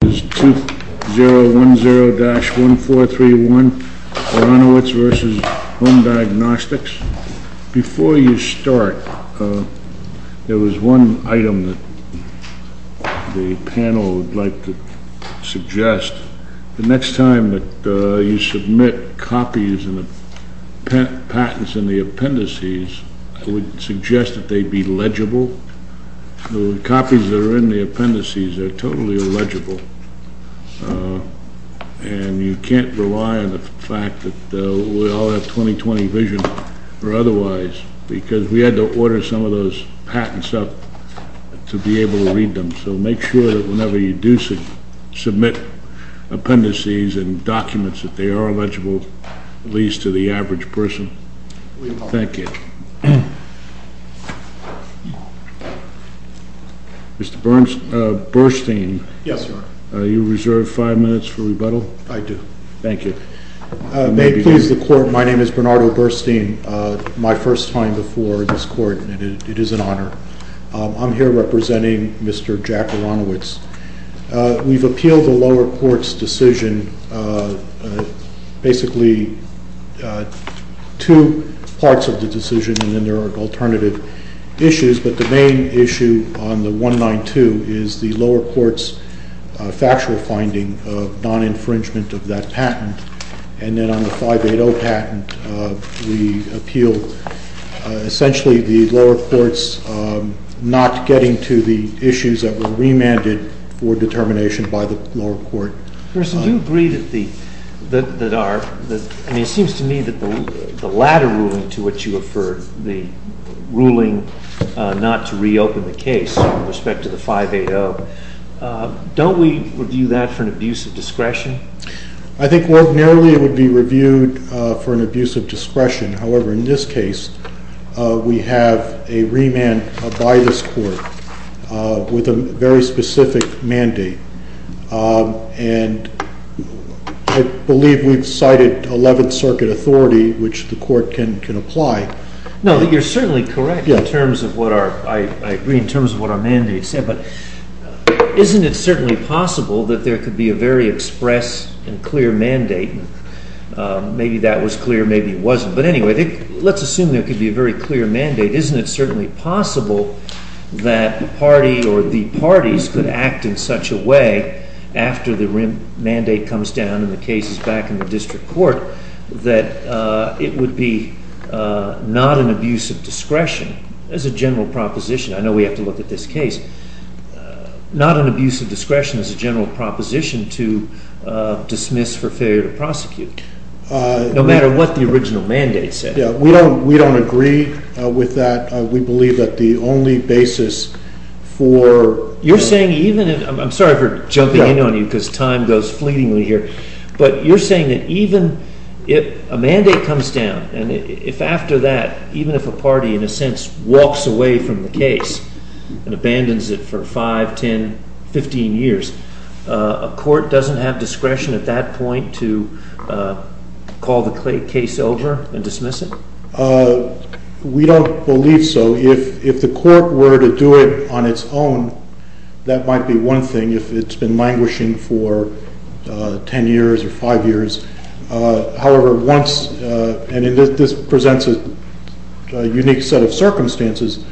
This is 2010-1431, ARONOWITZ v. HOME DIAGNOSTICS. Before you start, there was one item that the panel would like to suggest. The next time that you submit copies and patents in the appendices, I would suggest that they be legible. The copies that are in the appendices are totally legible. And you can't rely on the fact that we all have 20-20 vision or otherwise, because we had to order some of those patents up to be able to read them. So make sure that whenever you do submit appendices and documents that they are legible, at least to the average person. Thank you. Mr. Bernstein, are you reserved five minutes for rebuttal? I do. Thank you. May it please the Court, my name is Bernardo Bernstein. My first time before this Court, and it is an honor. I'm here representing Mr. Jack Aronowitz. We've appealed the lower court's decision, basically two parts of the decision, and then there are alternative issues. But the main issue on the 192 is the lower court's factual finding of non-infringement of that patent. And then on the 580 patent, we appealed essentially the lower court's not getting to the issues that were remanded for determination by the lower court. First, do you agree that the latter ruling to which you referred, the ruling not to reopen the case with respect to the 580, don't we review that for an abuse of discretion? I think ordinarily it would be reviewed for an abuse of discretion. However, in this case, we have a remand by this Court with a very specific mandate. And I believe we've cited 11th Circuit authority, which the Court can apply. No, you're certainly correct in terms of what our mandate said. But isn't it certainly possible that there could be a very express and clear mandate? Maybe that was clear, maybe it wasn't. But anyway, let's assume there could be a very clear mandate. Isn't it certainly possible that the party or the parties could act in such a way, after the mandate comes down and the case is back in the district court, that it would be not an abuse of discretion as a general proposition? I know we have to look at this case. Not an abuse of discretion as a general proposition to dismiss for failure to prosecute, no matter what the original mandate said. We don't agree with that. We believe that the only basis for... You're saying even... I'm sorry for jumping in on you because time goes fleetingly here. But you're saying that even if a mandate comes down, and if after that, even if a party, in a sense, walks away from the case and abandons it for 5, 10, 15 years, a court doesn't have discretion at that point to call the case over and dismiss it? We don't believe so. If the court were to do it on its own, that might be one thing, if it's been languishing for 10 years or 5 years. However, once... and this presents a unique set of circumstances,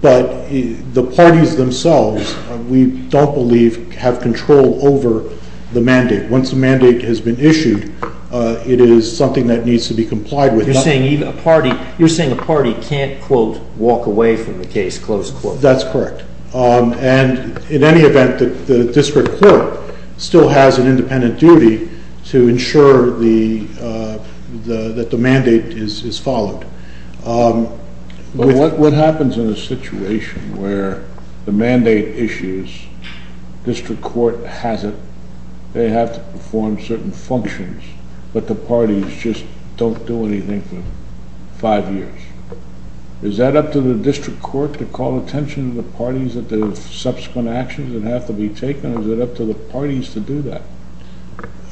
but the parties themselves, we don't believe, have control over the mandate. Once a mandate has been issued, it is something that needs to be complied with. You're saying a party can't, quote, walk away from the case, close quote. That's correct. And in any event, the district court still has an independent duty to ensure that the mandate is followed. But what happens in a situation where the mandate issues, district court has it, they have to perform certain functions, but the parties just don't do anything for 5 years? Is that up to the district court to call attention to the parties and the subsequent actions that have to be taken, or is it up to the parties to do that?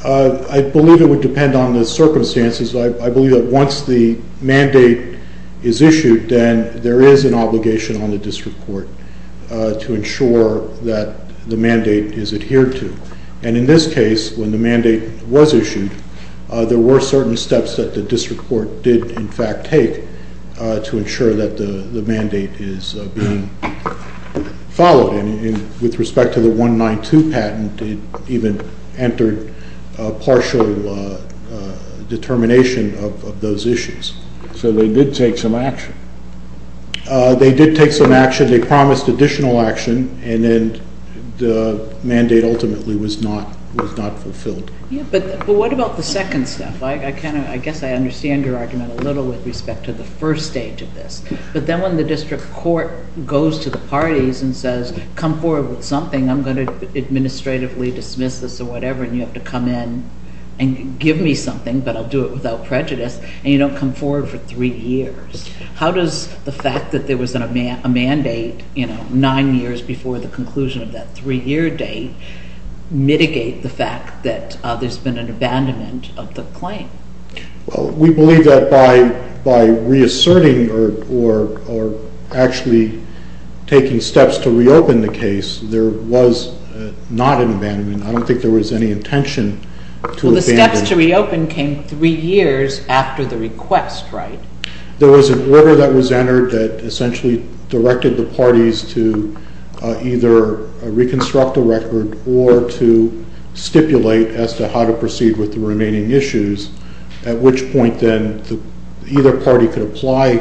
I believe it would depend on the circumstances. I believe that once the mandate is issued, then there is an obligation on the district court to ensure that the mandate is adhered to. And in this case, when the mandate was issued, there were certain steps that the district court did, in fact, take to ensure that the mandate is being followed. With respect to the 192 patent, it even entered partial determination of those issues. So they did take some action. They did take some action. They promised additional action, and then the mandate ultimately was not fulfilled. But what about the second step? I guess I understand your argument a little with respect to the first stage of this. But then when the district court goes to the parties and says, come forward with something, I'm going to administratively dismiss this or whatever, and you have to come in and give me something, but I'll do it without prejudice, and you don't come forward for 3 years. How does the fact that there was a mandate 9 years before the conclusion of that 3-year date mitigate the fact that there's been an abandonment of the claim? We believe that by reasserting or actually taking steps to reopen the case, there was not an abandonment. I don't think there was any intention to abandon. Well, the steps to reopen came 3 years after the request, right? There was an order that was entered that essentially directed the parties to either reconstruct the record or to stipulate as to how to proceed with the remaining issues, at which point then either party could apply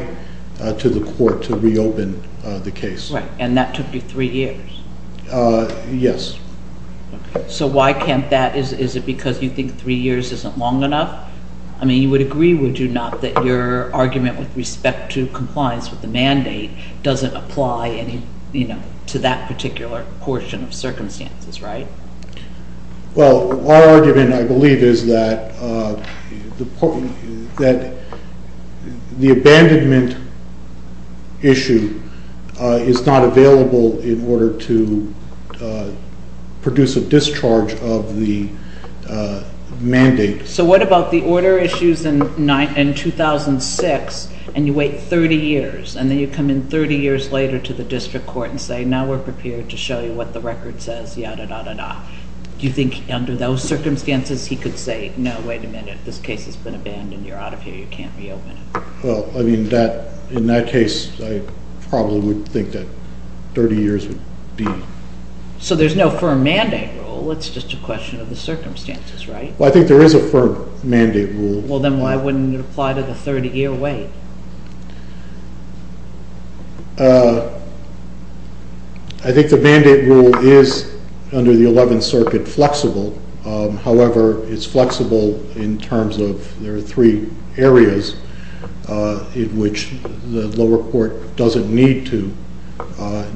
to the court to reopen the case. Right, and that took you 3 years? Yes. So why can't that? Is it because you think 3 years isn't long enough? I mean, you would agree, would you not, that your argument with respect to compliance with the mandate doesn't apply to that particular portion of circumstances, right? Well, our argument, I believe, is that the abandonment issue is not available in order to produce a discharge of the mandate. So what about the order issues in 2006, and you wait 30 years, and then you come in 30 years later to the district court and say, now we're prepared to show you what the record says, yada, yada, yada. Do you think under those circumstances he could say, no, wait a minute, this case has been abandoned, you're out of here, you can't reopen it? Well, I mean, in that case, I probably would think that 30 years would be... So there's no firm mandate rule, it's just a question of the circumstances, right? Well, I think there is a firm mandate rule. Well, then why wouldn't it apply to the 30-year wait? I think the mandate rule is, under the 11th Circuit, flexible. However, it's flexible in terms of there are three areas in which the lower court doesn't need to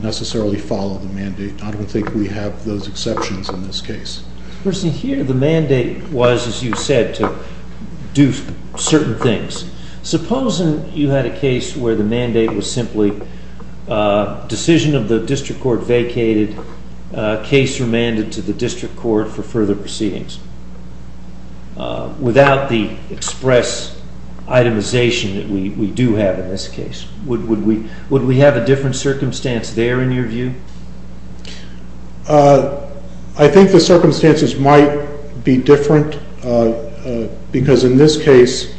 necessarily follow the mandate. I don't think we have those exceptions in this case. Of course, in here, the mandate was, as you said, to do certain things. Supposing you had a case where the mandate was simply decision of the district court vacated, case remanded to the district court for further proceedings, without the express itemization that we do have in this case. Would we have a different circumstance there, in your view? I think the circumstances might be different, because in this case,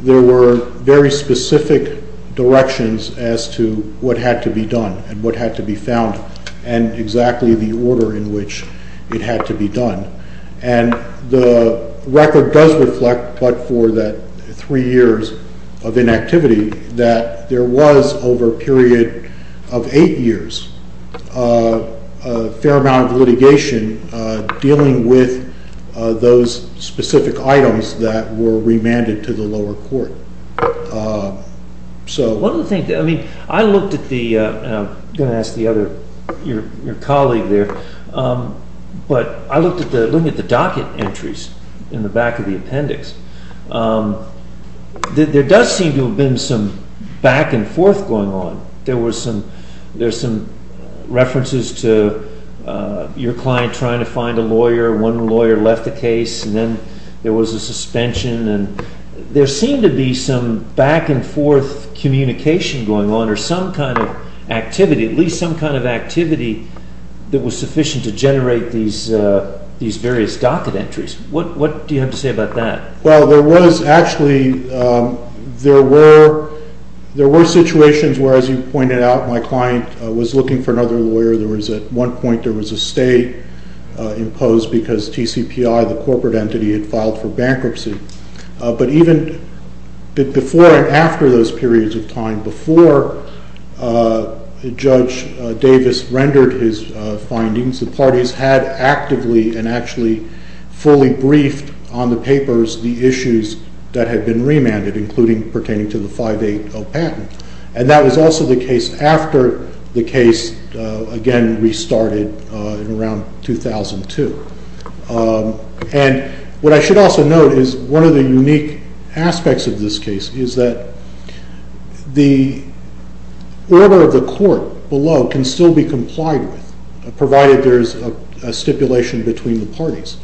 there were very specific directions as to what had to be done and what had to be found, and exactly the order in which it had to be done. The record does reflect, but for the three years of inactivity, that there was, over a period of eight years, a fair amount of litigation dealing with those specific items that were remanded to the lower court. I'm going to ask your colleague there, but I looked at the docket entries in the back of the appendix. There does seem to have been some back and forth going on. There were some references to your client trying to find a lawyer. One lawyer left the case, and then there was a suspension. There seemed to be some back and forth communication going on, or some kind of activity, at least some kind of activity that was sufficient to generate these various docket entries. What do you have to say about that? Well, there were situations where, as you pointed out, my client was looking for another lawyer. At one point, there was a stay imposed because TCPI, the corporate entity, had filed for bankruptcy. But even before and after those periods of time, before Judge Davis rendered his findings, the parties had actively and actually fully briefed on the papers the issues that had been remanded, including pertaining to the 580 patent. And that was also the case after the case, again, restarted around 2002. And what I should also note is one of the unique aspects of this case is that the order of the court below can still be complied with, provided there is a stipulation between the parties.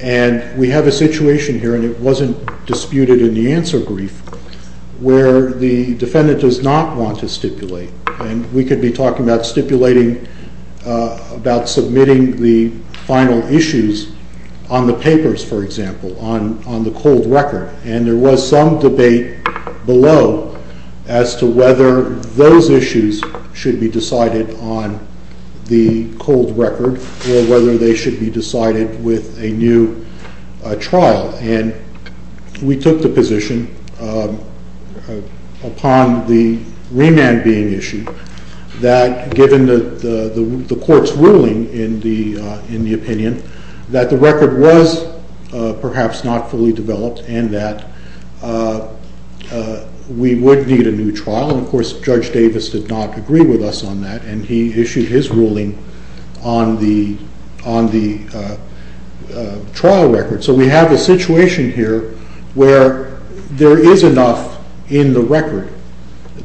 And we have a situation here, and it wasn't disputed in the answer brief, where the defendant does not want to stipulate. And we could be talking about submitting the final issues on the papers, for example, on the cold record. And there was some debate below as to whether those issues should be decided on the cold record or whether they should be decided with a new trial. And we took the position upon the remand being issued that given the court's ruling in the opinion, that the record was perhaps not fully developed and that we would need a new trial. And, of course, Judge Davis did not agree with us on that. And he issued his ruling on the trial record. So we have a situation here where there is enough in the record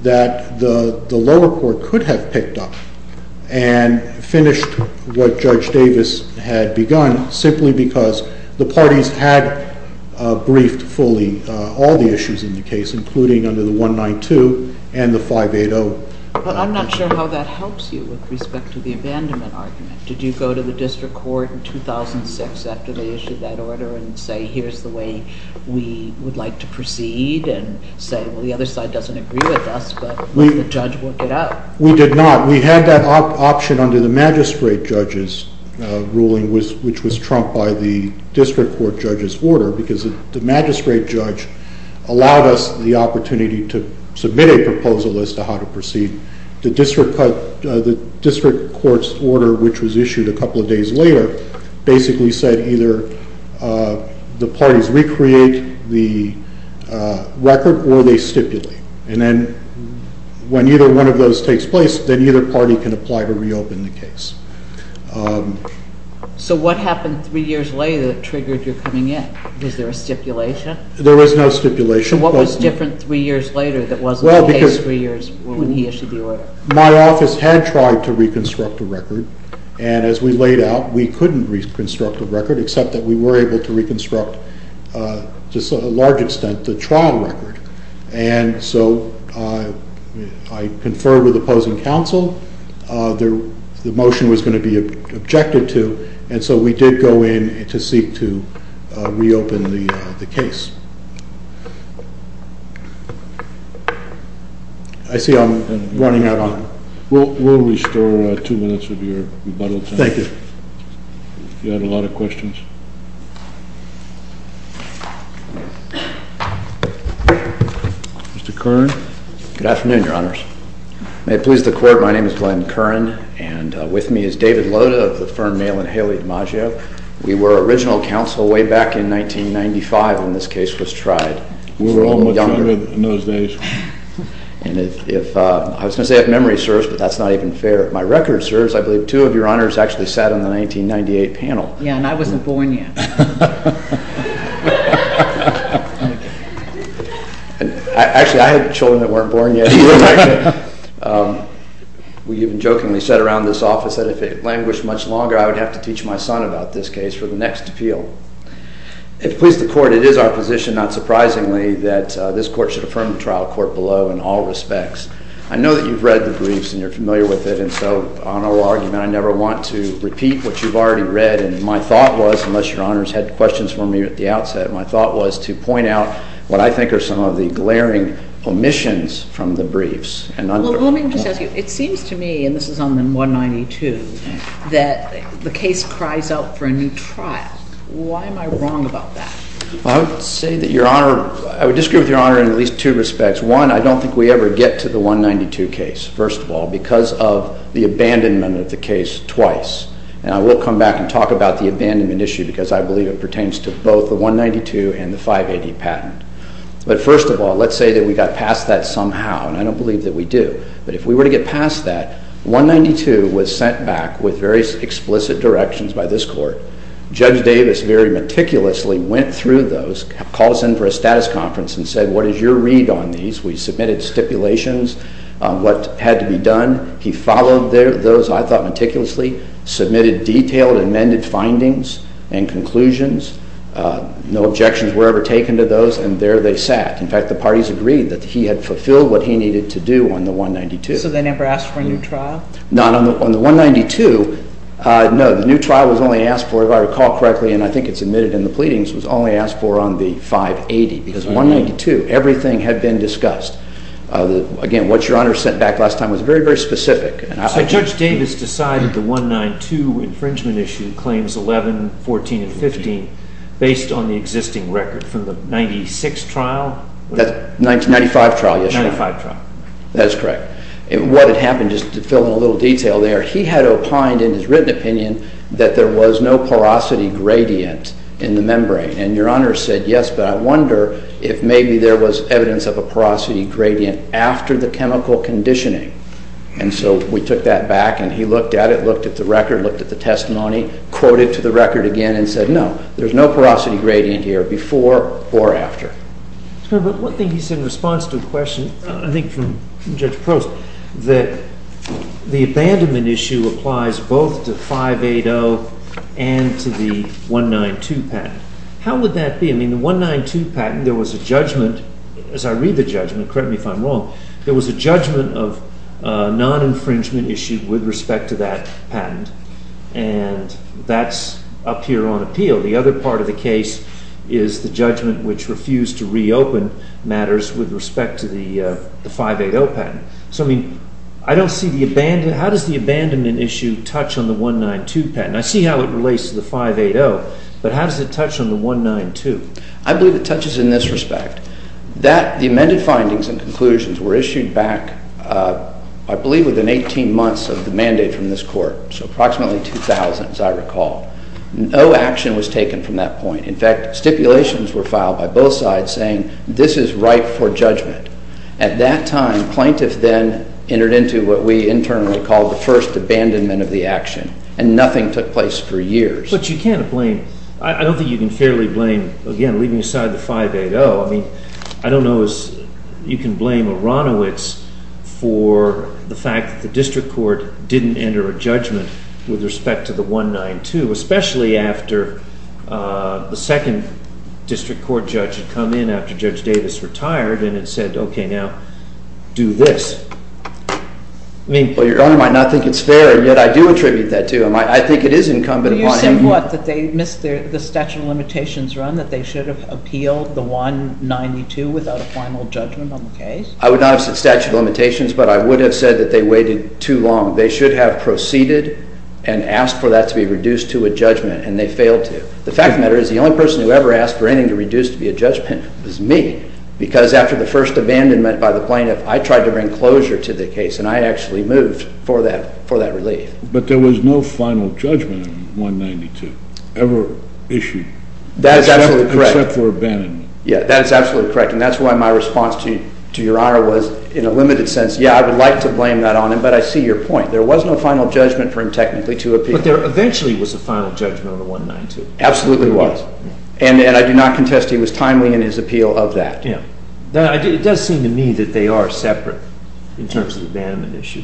that the lower court could have picked up and finished what Judge Davis had begun simply because the parties had briefed fully all the issues in the case, including under the 192 and the 580. But I'm not sure how that helps you with respect to the abandonment argument. Did you go to the district court in 2006 after they issued that order and say, here's the way we would like to proceed, and say, well, the other side doesn't agree with us, but let the judge work it out? We did not. We had that option under the magistrate judge's ruling, which was trumped by the district court judge's order, because the magistrate judge allowed us the opportunity to submit a proposal as to how to proceed. The district court's order, which was issued a couple of days later, basically said either the parties recreate the record or they stipulate. And then when either one of those takes place, then either party can apply to reopen the case. So what happened three years later that triggered your coming in? Was there a stipulation? There was no stipulation. So what was different three years later that wasn't the case three years when he issued the order? My office had tried to reconstruct the record, and as we laid out, we couldn't reconstruct the record, except that we were able to reconstruct, to a large extent, the trial record. And so I conferred with opposing counsel. The motion was going to be objected to, and so we did go in to seek to reopen the case. I see I'm running out of time. We'll restore two minutes of your rebuttal time. You had a lot of questions. Mr. Curran. Good afternoon, Your Honors. May it please the Court, my name is Glenn Curran, and with me is David Loda of the firm Mail and Haley DiMaggio. We were original counsel way back in 1995 when this case was tried. We were all much younger in those days. I was going to say I have memory, sirs, but that's not even fair. My record, sirs, I believe two of Your Honors actually sat on the 1998 panel. Yeah, and I wasn't born yet. Actually, I had children that weren't born yet. We even jokingly said around this office that if it languished much longer, I would have to teach my son about this case for the next appeal. If it pleases the Court, it is our position, not surprisingly, that this Court should affirm the trial court below in all respects. I know that you've read the briefs and you're familiar with it, and so on our argument I never want to repeat what you've already read. And my thought was, unless Your Honors had questions for me at the outset, my thought was to point out what I think are some of the glaring omissions from the briefs. Well, let me just ask you, it seems to me, and this is on the 192, that the case cries out for a new trial. Why am I wrong about that? Well, I would say that Your Honor, I would disagree with Your Honor in at least two respects. One, I don't think we ever get to the 192 case, first of all, because of the abandonment of the case twice. And I will come back and talk about the abandonment issue because I believe it pertains to both the 192 and the 580 patent. But first of all, let's say that we got past that somehow, and I don't believe that we do. But if we were to get past that, 192 was sent back with very explicit directions by this Court. Judge Davis very meticulously went through those, called us in for a status conference and said, what is your read on these? We submitted stipulations on what had to be done. He followed those, I thought, meticulously, submitted detailed amended findings and conclusions. No objections were ever taken to those, and there they sat. In fact, the parties agreed that he had fulfilled what he needed to do on the 192. So they never asked for a new trial? Not on the 192. No, the new trial was only asked for, if I recall correctly, and I think it's admitted in the pleadings, was only asked for on the 580. Because 192, everything had been discussed. Again, what Your Honor sent back last time was very, very specific. So Judge Davis decided the 192 infringement issue, claims 11, 14, and 15, based on the existing record from the 96 trial? The 1995 trial, yes, Your Honor. 1995 trial. That is correct. What had happened, just to fill in a little detail there, he had opined in his written opinion that there was no porosity gradient in the membrane. And Your Honor said, yes, but I wonder if maybe there was evidence of a porosity gradient after the chemical conditioning. And so we took that back, and he looked at it, looked at the record, looked at the testimony, quoted to the record again, and said, no, there's no porosity gradient here before or after. But one thing he said in response to a question, I think from Judge Prost, that the abandonment issue applies both to 580 and to the 192 patent. How would that be? I mean, the 192 patent, there was a judgment, as I read the judgment, correct me if I'm wrong, there was a judgment of non-infringement issue with respect to that patent. And that's up here on appeal. The other part of the case is the judgment which refused to reopen matters with respect to the 580 patent. So, I mean, I don't see the abandonment. How does the abandonment issue touch on the 192 patent? I see how it relates to the 580, but how does it touch on the 192? I believe it touches in this respect. The amended findings and conclusions were issued back, I believe, within 18 months of the mandate from this court. So approximately 2000, as I recall. No action was taken from that point. In fact, stipulations were filed by both sides saying this is right for judgment. At that time, plaintiffs then entered into what we internally call the first abandonment of the action. And nothing took place for years. But you can't blame, I don't think you can fairly blame, again, leaving aside the 580. I mean, I don't know if you can blame Aronowitz for the fact that the district court didn't enter a judgment with respect to the 192, especially after the second district court judge had come in after Judge Davis retired and had said, okay, now, do this. Well, Your Honor, I might not think it's fair, and yet I do attribute that to him. I think it is incumbent upon him. You still thought that they missed the statute of limitations run, that they should have appealed the 192 without a final judgment on the case? I would not have said statute of limitations, but I would have said that they waited too long. They should have proceeded and asked for that to be reduced to a judgment, and they failed to. The fact of the matter is the only person who ever asked for anything to be reduced to a judgment was me, because after the first abandonment by the plaintiff, I tried to bring closure to the case, and I actually moved for that relief. But there was no final judgment on 192 ever issued? That is absolutely correct. Except for abandonment. Yeah, that is absolutely correct, and that's why my response to Your Honor was in a limited sense, yeah, I would like to blame that on him, but I see your point. There was no final judgment for him technically to appeal. But there eventually was a final judgment on the 192. Absolutely was, and I do not contest he was timely in his appeal of that. Yeah. It does seem to me that they are separate in terms of the abandonment issue.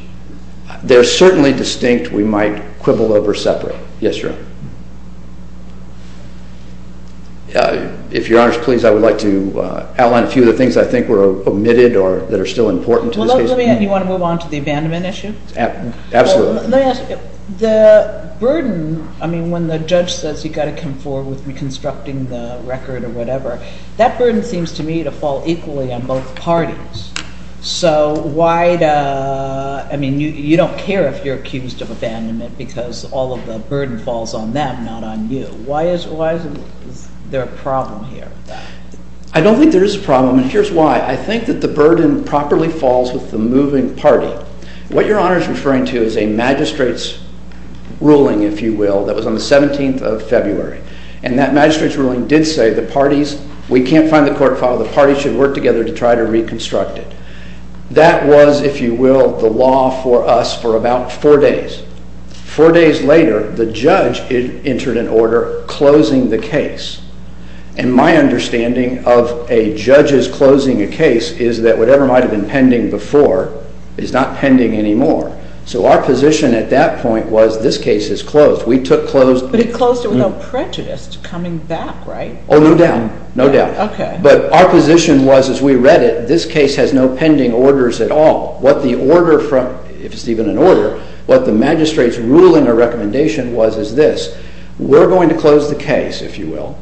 They're certainly distinct. We might quibble over separate. Yes, Your Honor. If Your Honor is pleased, I would like to outline a few of the things I think were omitted or that are still important to this case. Well, let me add, you want to move on to the abandonment issue? Absolutely. Let me ask you, the burden, I mean, when the judge says you've got to come forward with reconstructing the record or whatever, that burden seems to me to fall equally on both parties. So why, I mean, you don't care if you're accused of abandonment because all of the burden falls on them, not on you. Why is there a problem here? I don't think there is a problem, and here's why. I think that the burden properly falls with the moving party. What Your Honor is referring to is a magistrate's ruling, if you will, that was on the 17th of February. And that magistrate's ruling did say the parties, we can't find the court file, the parties should work together to try to reconstruct it. That was, if you will, the law for us for about four days. Four days later, the judge entered an order closing the case. And my understanding of a judge's closing a case is that whatever might have been pending before is not pending anymore. So our position at that point was this case is closed. We took close. But it closed it without prejudice, coming back, right? Oh, no doubt, no doubt. Okay. But our position was, as we read it, this case has no pending orders at all. What the order from, if it's even an order, what the magistrate's ruling or recommendation was is this. We're going to close the case, if you will,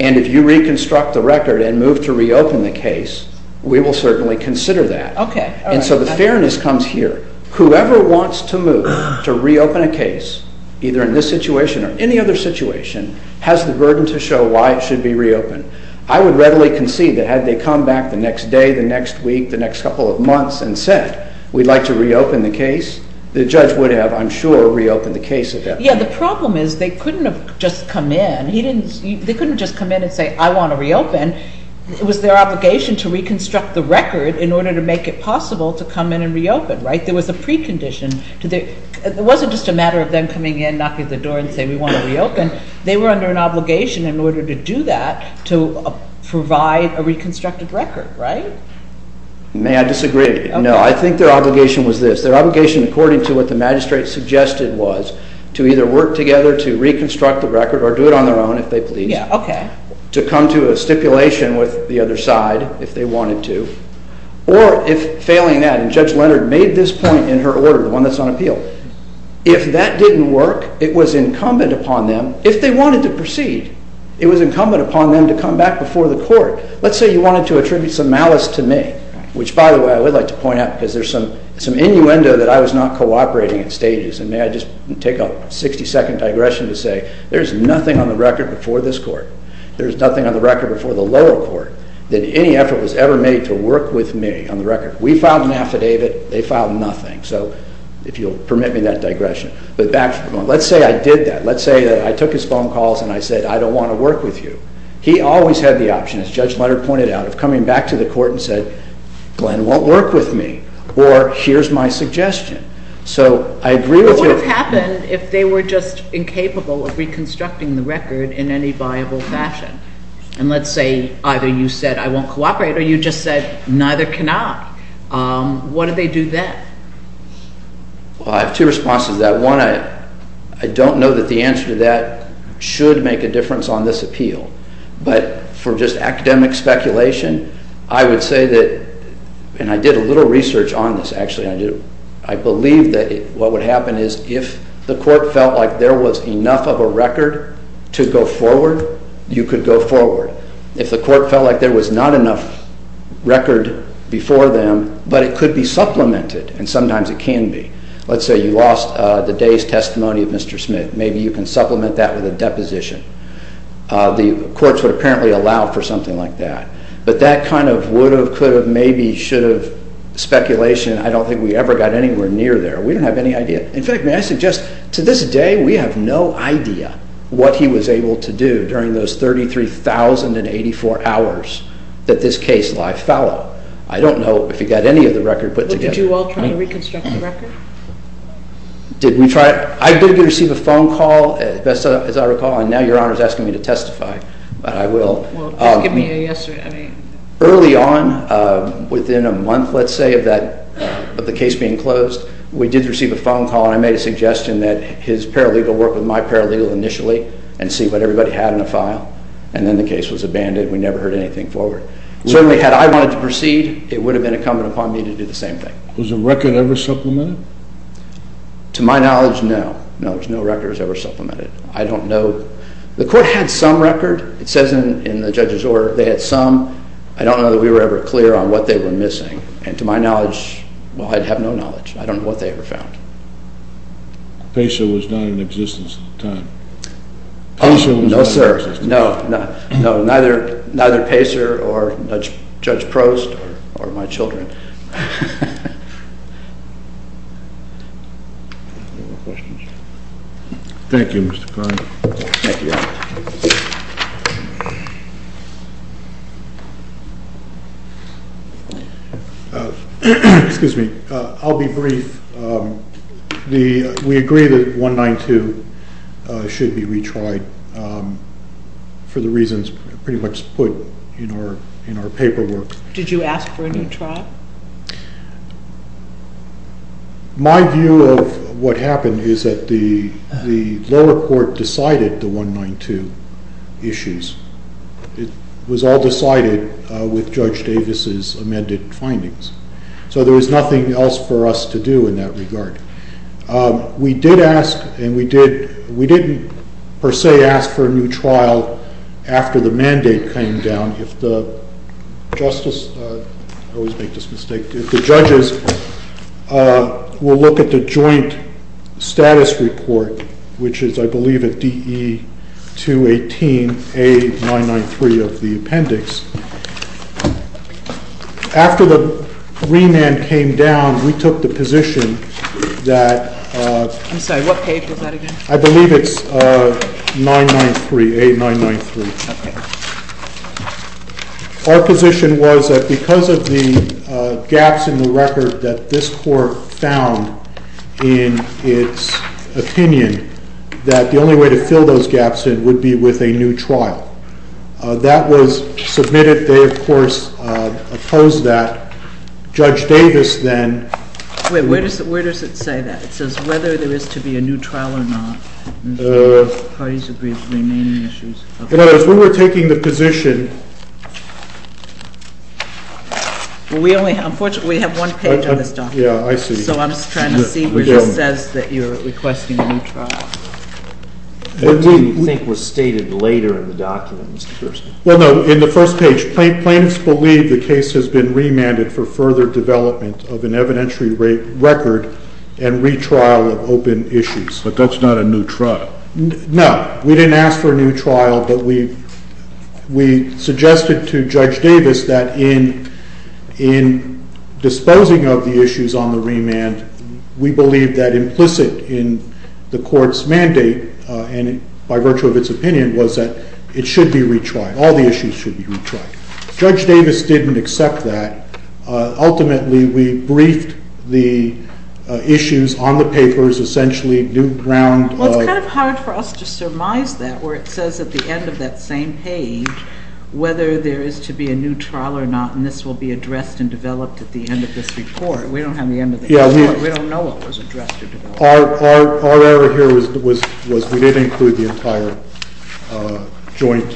and if you reconstruct the record and move to reopen the case, we will certainly consider that. Okay. And so the fairness comes here. Whoever wants to move to reopen a case, either in this situation or any other situation, has the burden to show why it should be reopened. I would readily concede that had they come back the next day, the next week, the next couple of months and said, we'd like to reopen the case, the judge would have, I'm sure, reopened the case eventually. Yeah, the problem is they couldn't have just come in. They couldn't just come in and say, I want to reopen. It was their obligation to reconstruct the record in order to make it possible to come in and reopen, right? There was a precondition. It wasn't just a matter of them coming in, knocking at the door and saying, we want to reopen. They were under an obligation in order to do that, to provide a reconstructed record, right? May I disagree? No. I think their obligation was this. Their obligation, according to what the magistrate suggested, was to either work together to reconstruct the record or do it on their own, if they please. Yeah, okay. To come to a stipulation with the other side, if they wanted to, or if failing that, and Judge Leonard made this point in her order, the one that's on appeal, if that didn't work, it was incumbent upon them, if they wanted to proceed, it was incumbent upon them to come back before the court. Let's say you wanted to attribute some malice to me, which, by the way, I would like to point out because there's some innuendo that I was not cooperating in stages. And may I just take a 60-second digression to say there's nothing on the record before this court, there's nothing on the record before the lower court, that any effort was ever made to work with me on the record. We filed an affidavit. They filed nothing. So if you'll permit me that digression. But back to the point. Let's say I did that. Let's say that I took his phone calls and I said, I don't want to work with you. He always had the option, as Judge Leonard pointed out, of coming back to the court and said, Glenn won't work with me. Or here's my suggestion. So I agree with you. What would have happened if they were just incapable of reconstructing the record in any viable fashion? And let's say either you said, I won't cooperate, or you just said, neither can I. What do they do then? Well, I have two responses to that. One, I don't know that the answer to that should make a difference on this appeal. But for just academic speculation, I would say that, and I did a little research on this, actually. I believe that what would happen is if the court felt like there was enough of a record to go forward, you could go forward. If the court felt like there was not enough record before them, but it could be supplemented, and sometimes it can be. Let's say you lost the day's testimony of Mr. Smith. Maybe you can supplement that with a deposition. The courts would apparently allow for something like that. But that kind of would have, could have, maybe should have speculation, I don't think we ever got anywhere near there. We didn't have any idea. In fact, may I suggest, to this day, we have no idea what he was able to do during those 33,084 hours that this case lie fallow. I don't know if he got any of the record put together. But did you all try to reconstruct the record? Did we try? I did receive a phone call, as I recall, and now Your Honor is asking me to testify, but I will. Well, just give me a yes or a no. Well, I made a suggestion that his paralegal work with my paralegal initially and see what everybody had in the file. And then the case was abandoned. We never heard anything forward. Certainly, had I wanted to proceed, it would have been incumbent upon me to do the same thing. Was the record ever supplemented? To my knowledge, no. No, there was no record that was ever supplemented. I don't know. The court had some record. It says in the judge's order they had some. I don't know that we were ever clear on what they were missing. And to my knowledge, well, I have no knowledge. I don't know what they ever found. Pacer was not in existence at the time. Oh, no, sir. No, no. Neither Pacer or Judge Prost or my children. No more questions? Thank you, Mr. Carney. Thank you, Your Honor. Excuse me. I'll be brief. We agree that 192 should be retried for the reasons pretty much put in our paperwork. Did you ask for a new trial? My view of what happened is that the lower court decided the 192 issues. It was all decided with Judge Davis's amended findings. So there was nothing else for us to do in that regard. We did ask and we didn't per se ask for a new trial after the mandate came down. If the judges will look at the joint status report, which is, I believe, at DE 218A993 of the appendix. After the remand came down, we took the position that... I'm sorry. What page was that again? I believe it's 993, A993. Okay. Our position was that because of the gaps in the record that this court found in its opinion, that the only way to fill those gaps in would be with a new trial. That was submitted. They, of course, opposed that. Judge Davis then... Wait. Where does it say that? It says whether there is to be a new trial or not. Parties agree with the remaining issues. In other words, when we're taking the position... Unfortunately, we have one page on this document. Yeah, I see. So I'm just trying to see where it says that you're requesting a new trial. What do you think was stated later in the document, Mr. Kerstner? Well, no. In the first page, plaintiffs believe the case has been remanded for further development of an evidentiary record and retrial of open issues. But that's not a new trial. No. We didn't ask for a new trial, but we suggested to Judge Davis that in disposing of the issues on the remand, we believe that implicit in the court's mandate, and by virtue of its opinion, was that it should be retried. All the issues should be retried. Judge Davis didn't accept that. Ultimately, we briefed the issues on the papers, essentially new ground... Well, it's kind of hard for us to surmise that, where it says at the end of that same page whether there is to be a new trial or not, and this will be addressed and developed at the end of this report. We don't have the end of the report. We don't know what was addressed or developed. Our error here was we didn't include the entire joint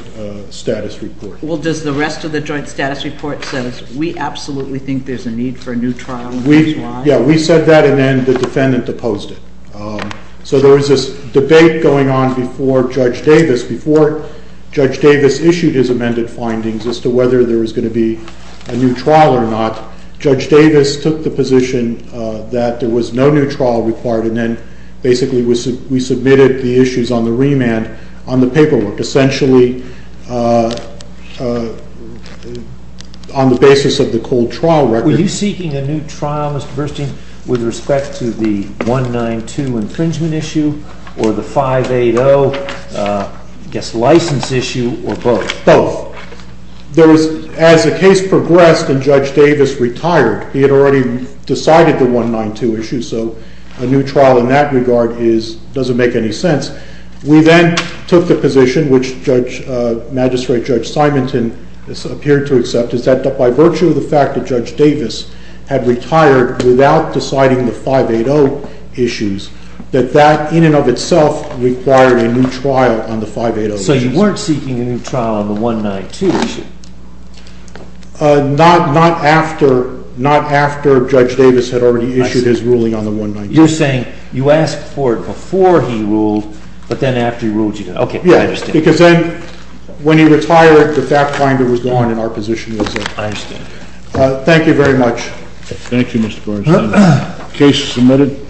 status report. Well, does the rest of the joint status report say, we absolutely think there's a need for a new trial? Yeah, we said that, and then the defendant opposed it. So there was this debate going on before Judge Davis issued his amended findings as to whether there was going to be a new trial or not. Judge Davis took the position that there was no new trial required, and then basically we submitted the issues on the remand on the paperwork, essentially on the basis of the cold trial record. Were you seeking a new trial, Mr. Burstein, with respect to the 192 infringement issue or the 580, I guess, license issue or both? Both. As the case progressed and Judge Davis retired, he had already decided the 192 issue, so a new trial in that regard doesn't make any sense. We then took the position, which Magistrate Judge Simonton appeared to accept, is that by virtue of the fact that Judge Davis had retired without deciding the 580 issues, that that in and of itself required a new trial on the 580 issues. So you weren't seeking a new trial on the 192 issue? Not after Judge Davis had already issued his ruling on the 192. You're saying you asked for it before he ruled, but then after he ruled you didn't. Okay, I understand. Yeah, because then when he retired, the fact finder was gone and our position was up. I understand. Thank you very much. Thank you, Mr. Burstein. Case submitted.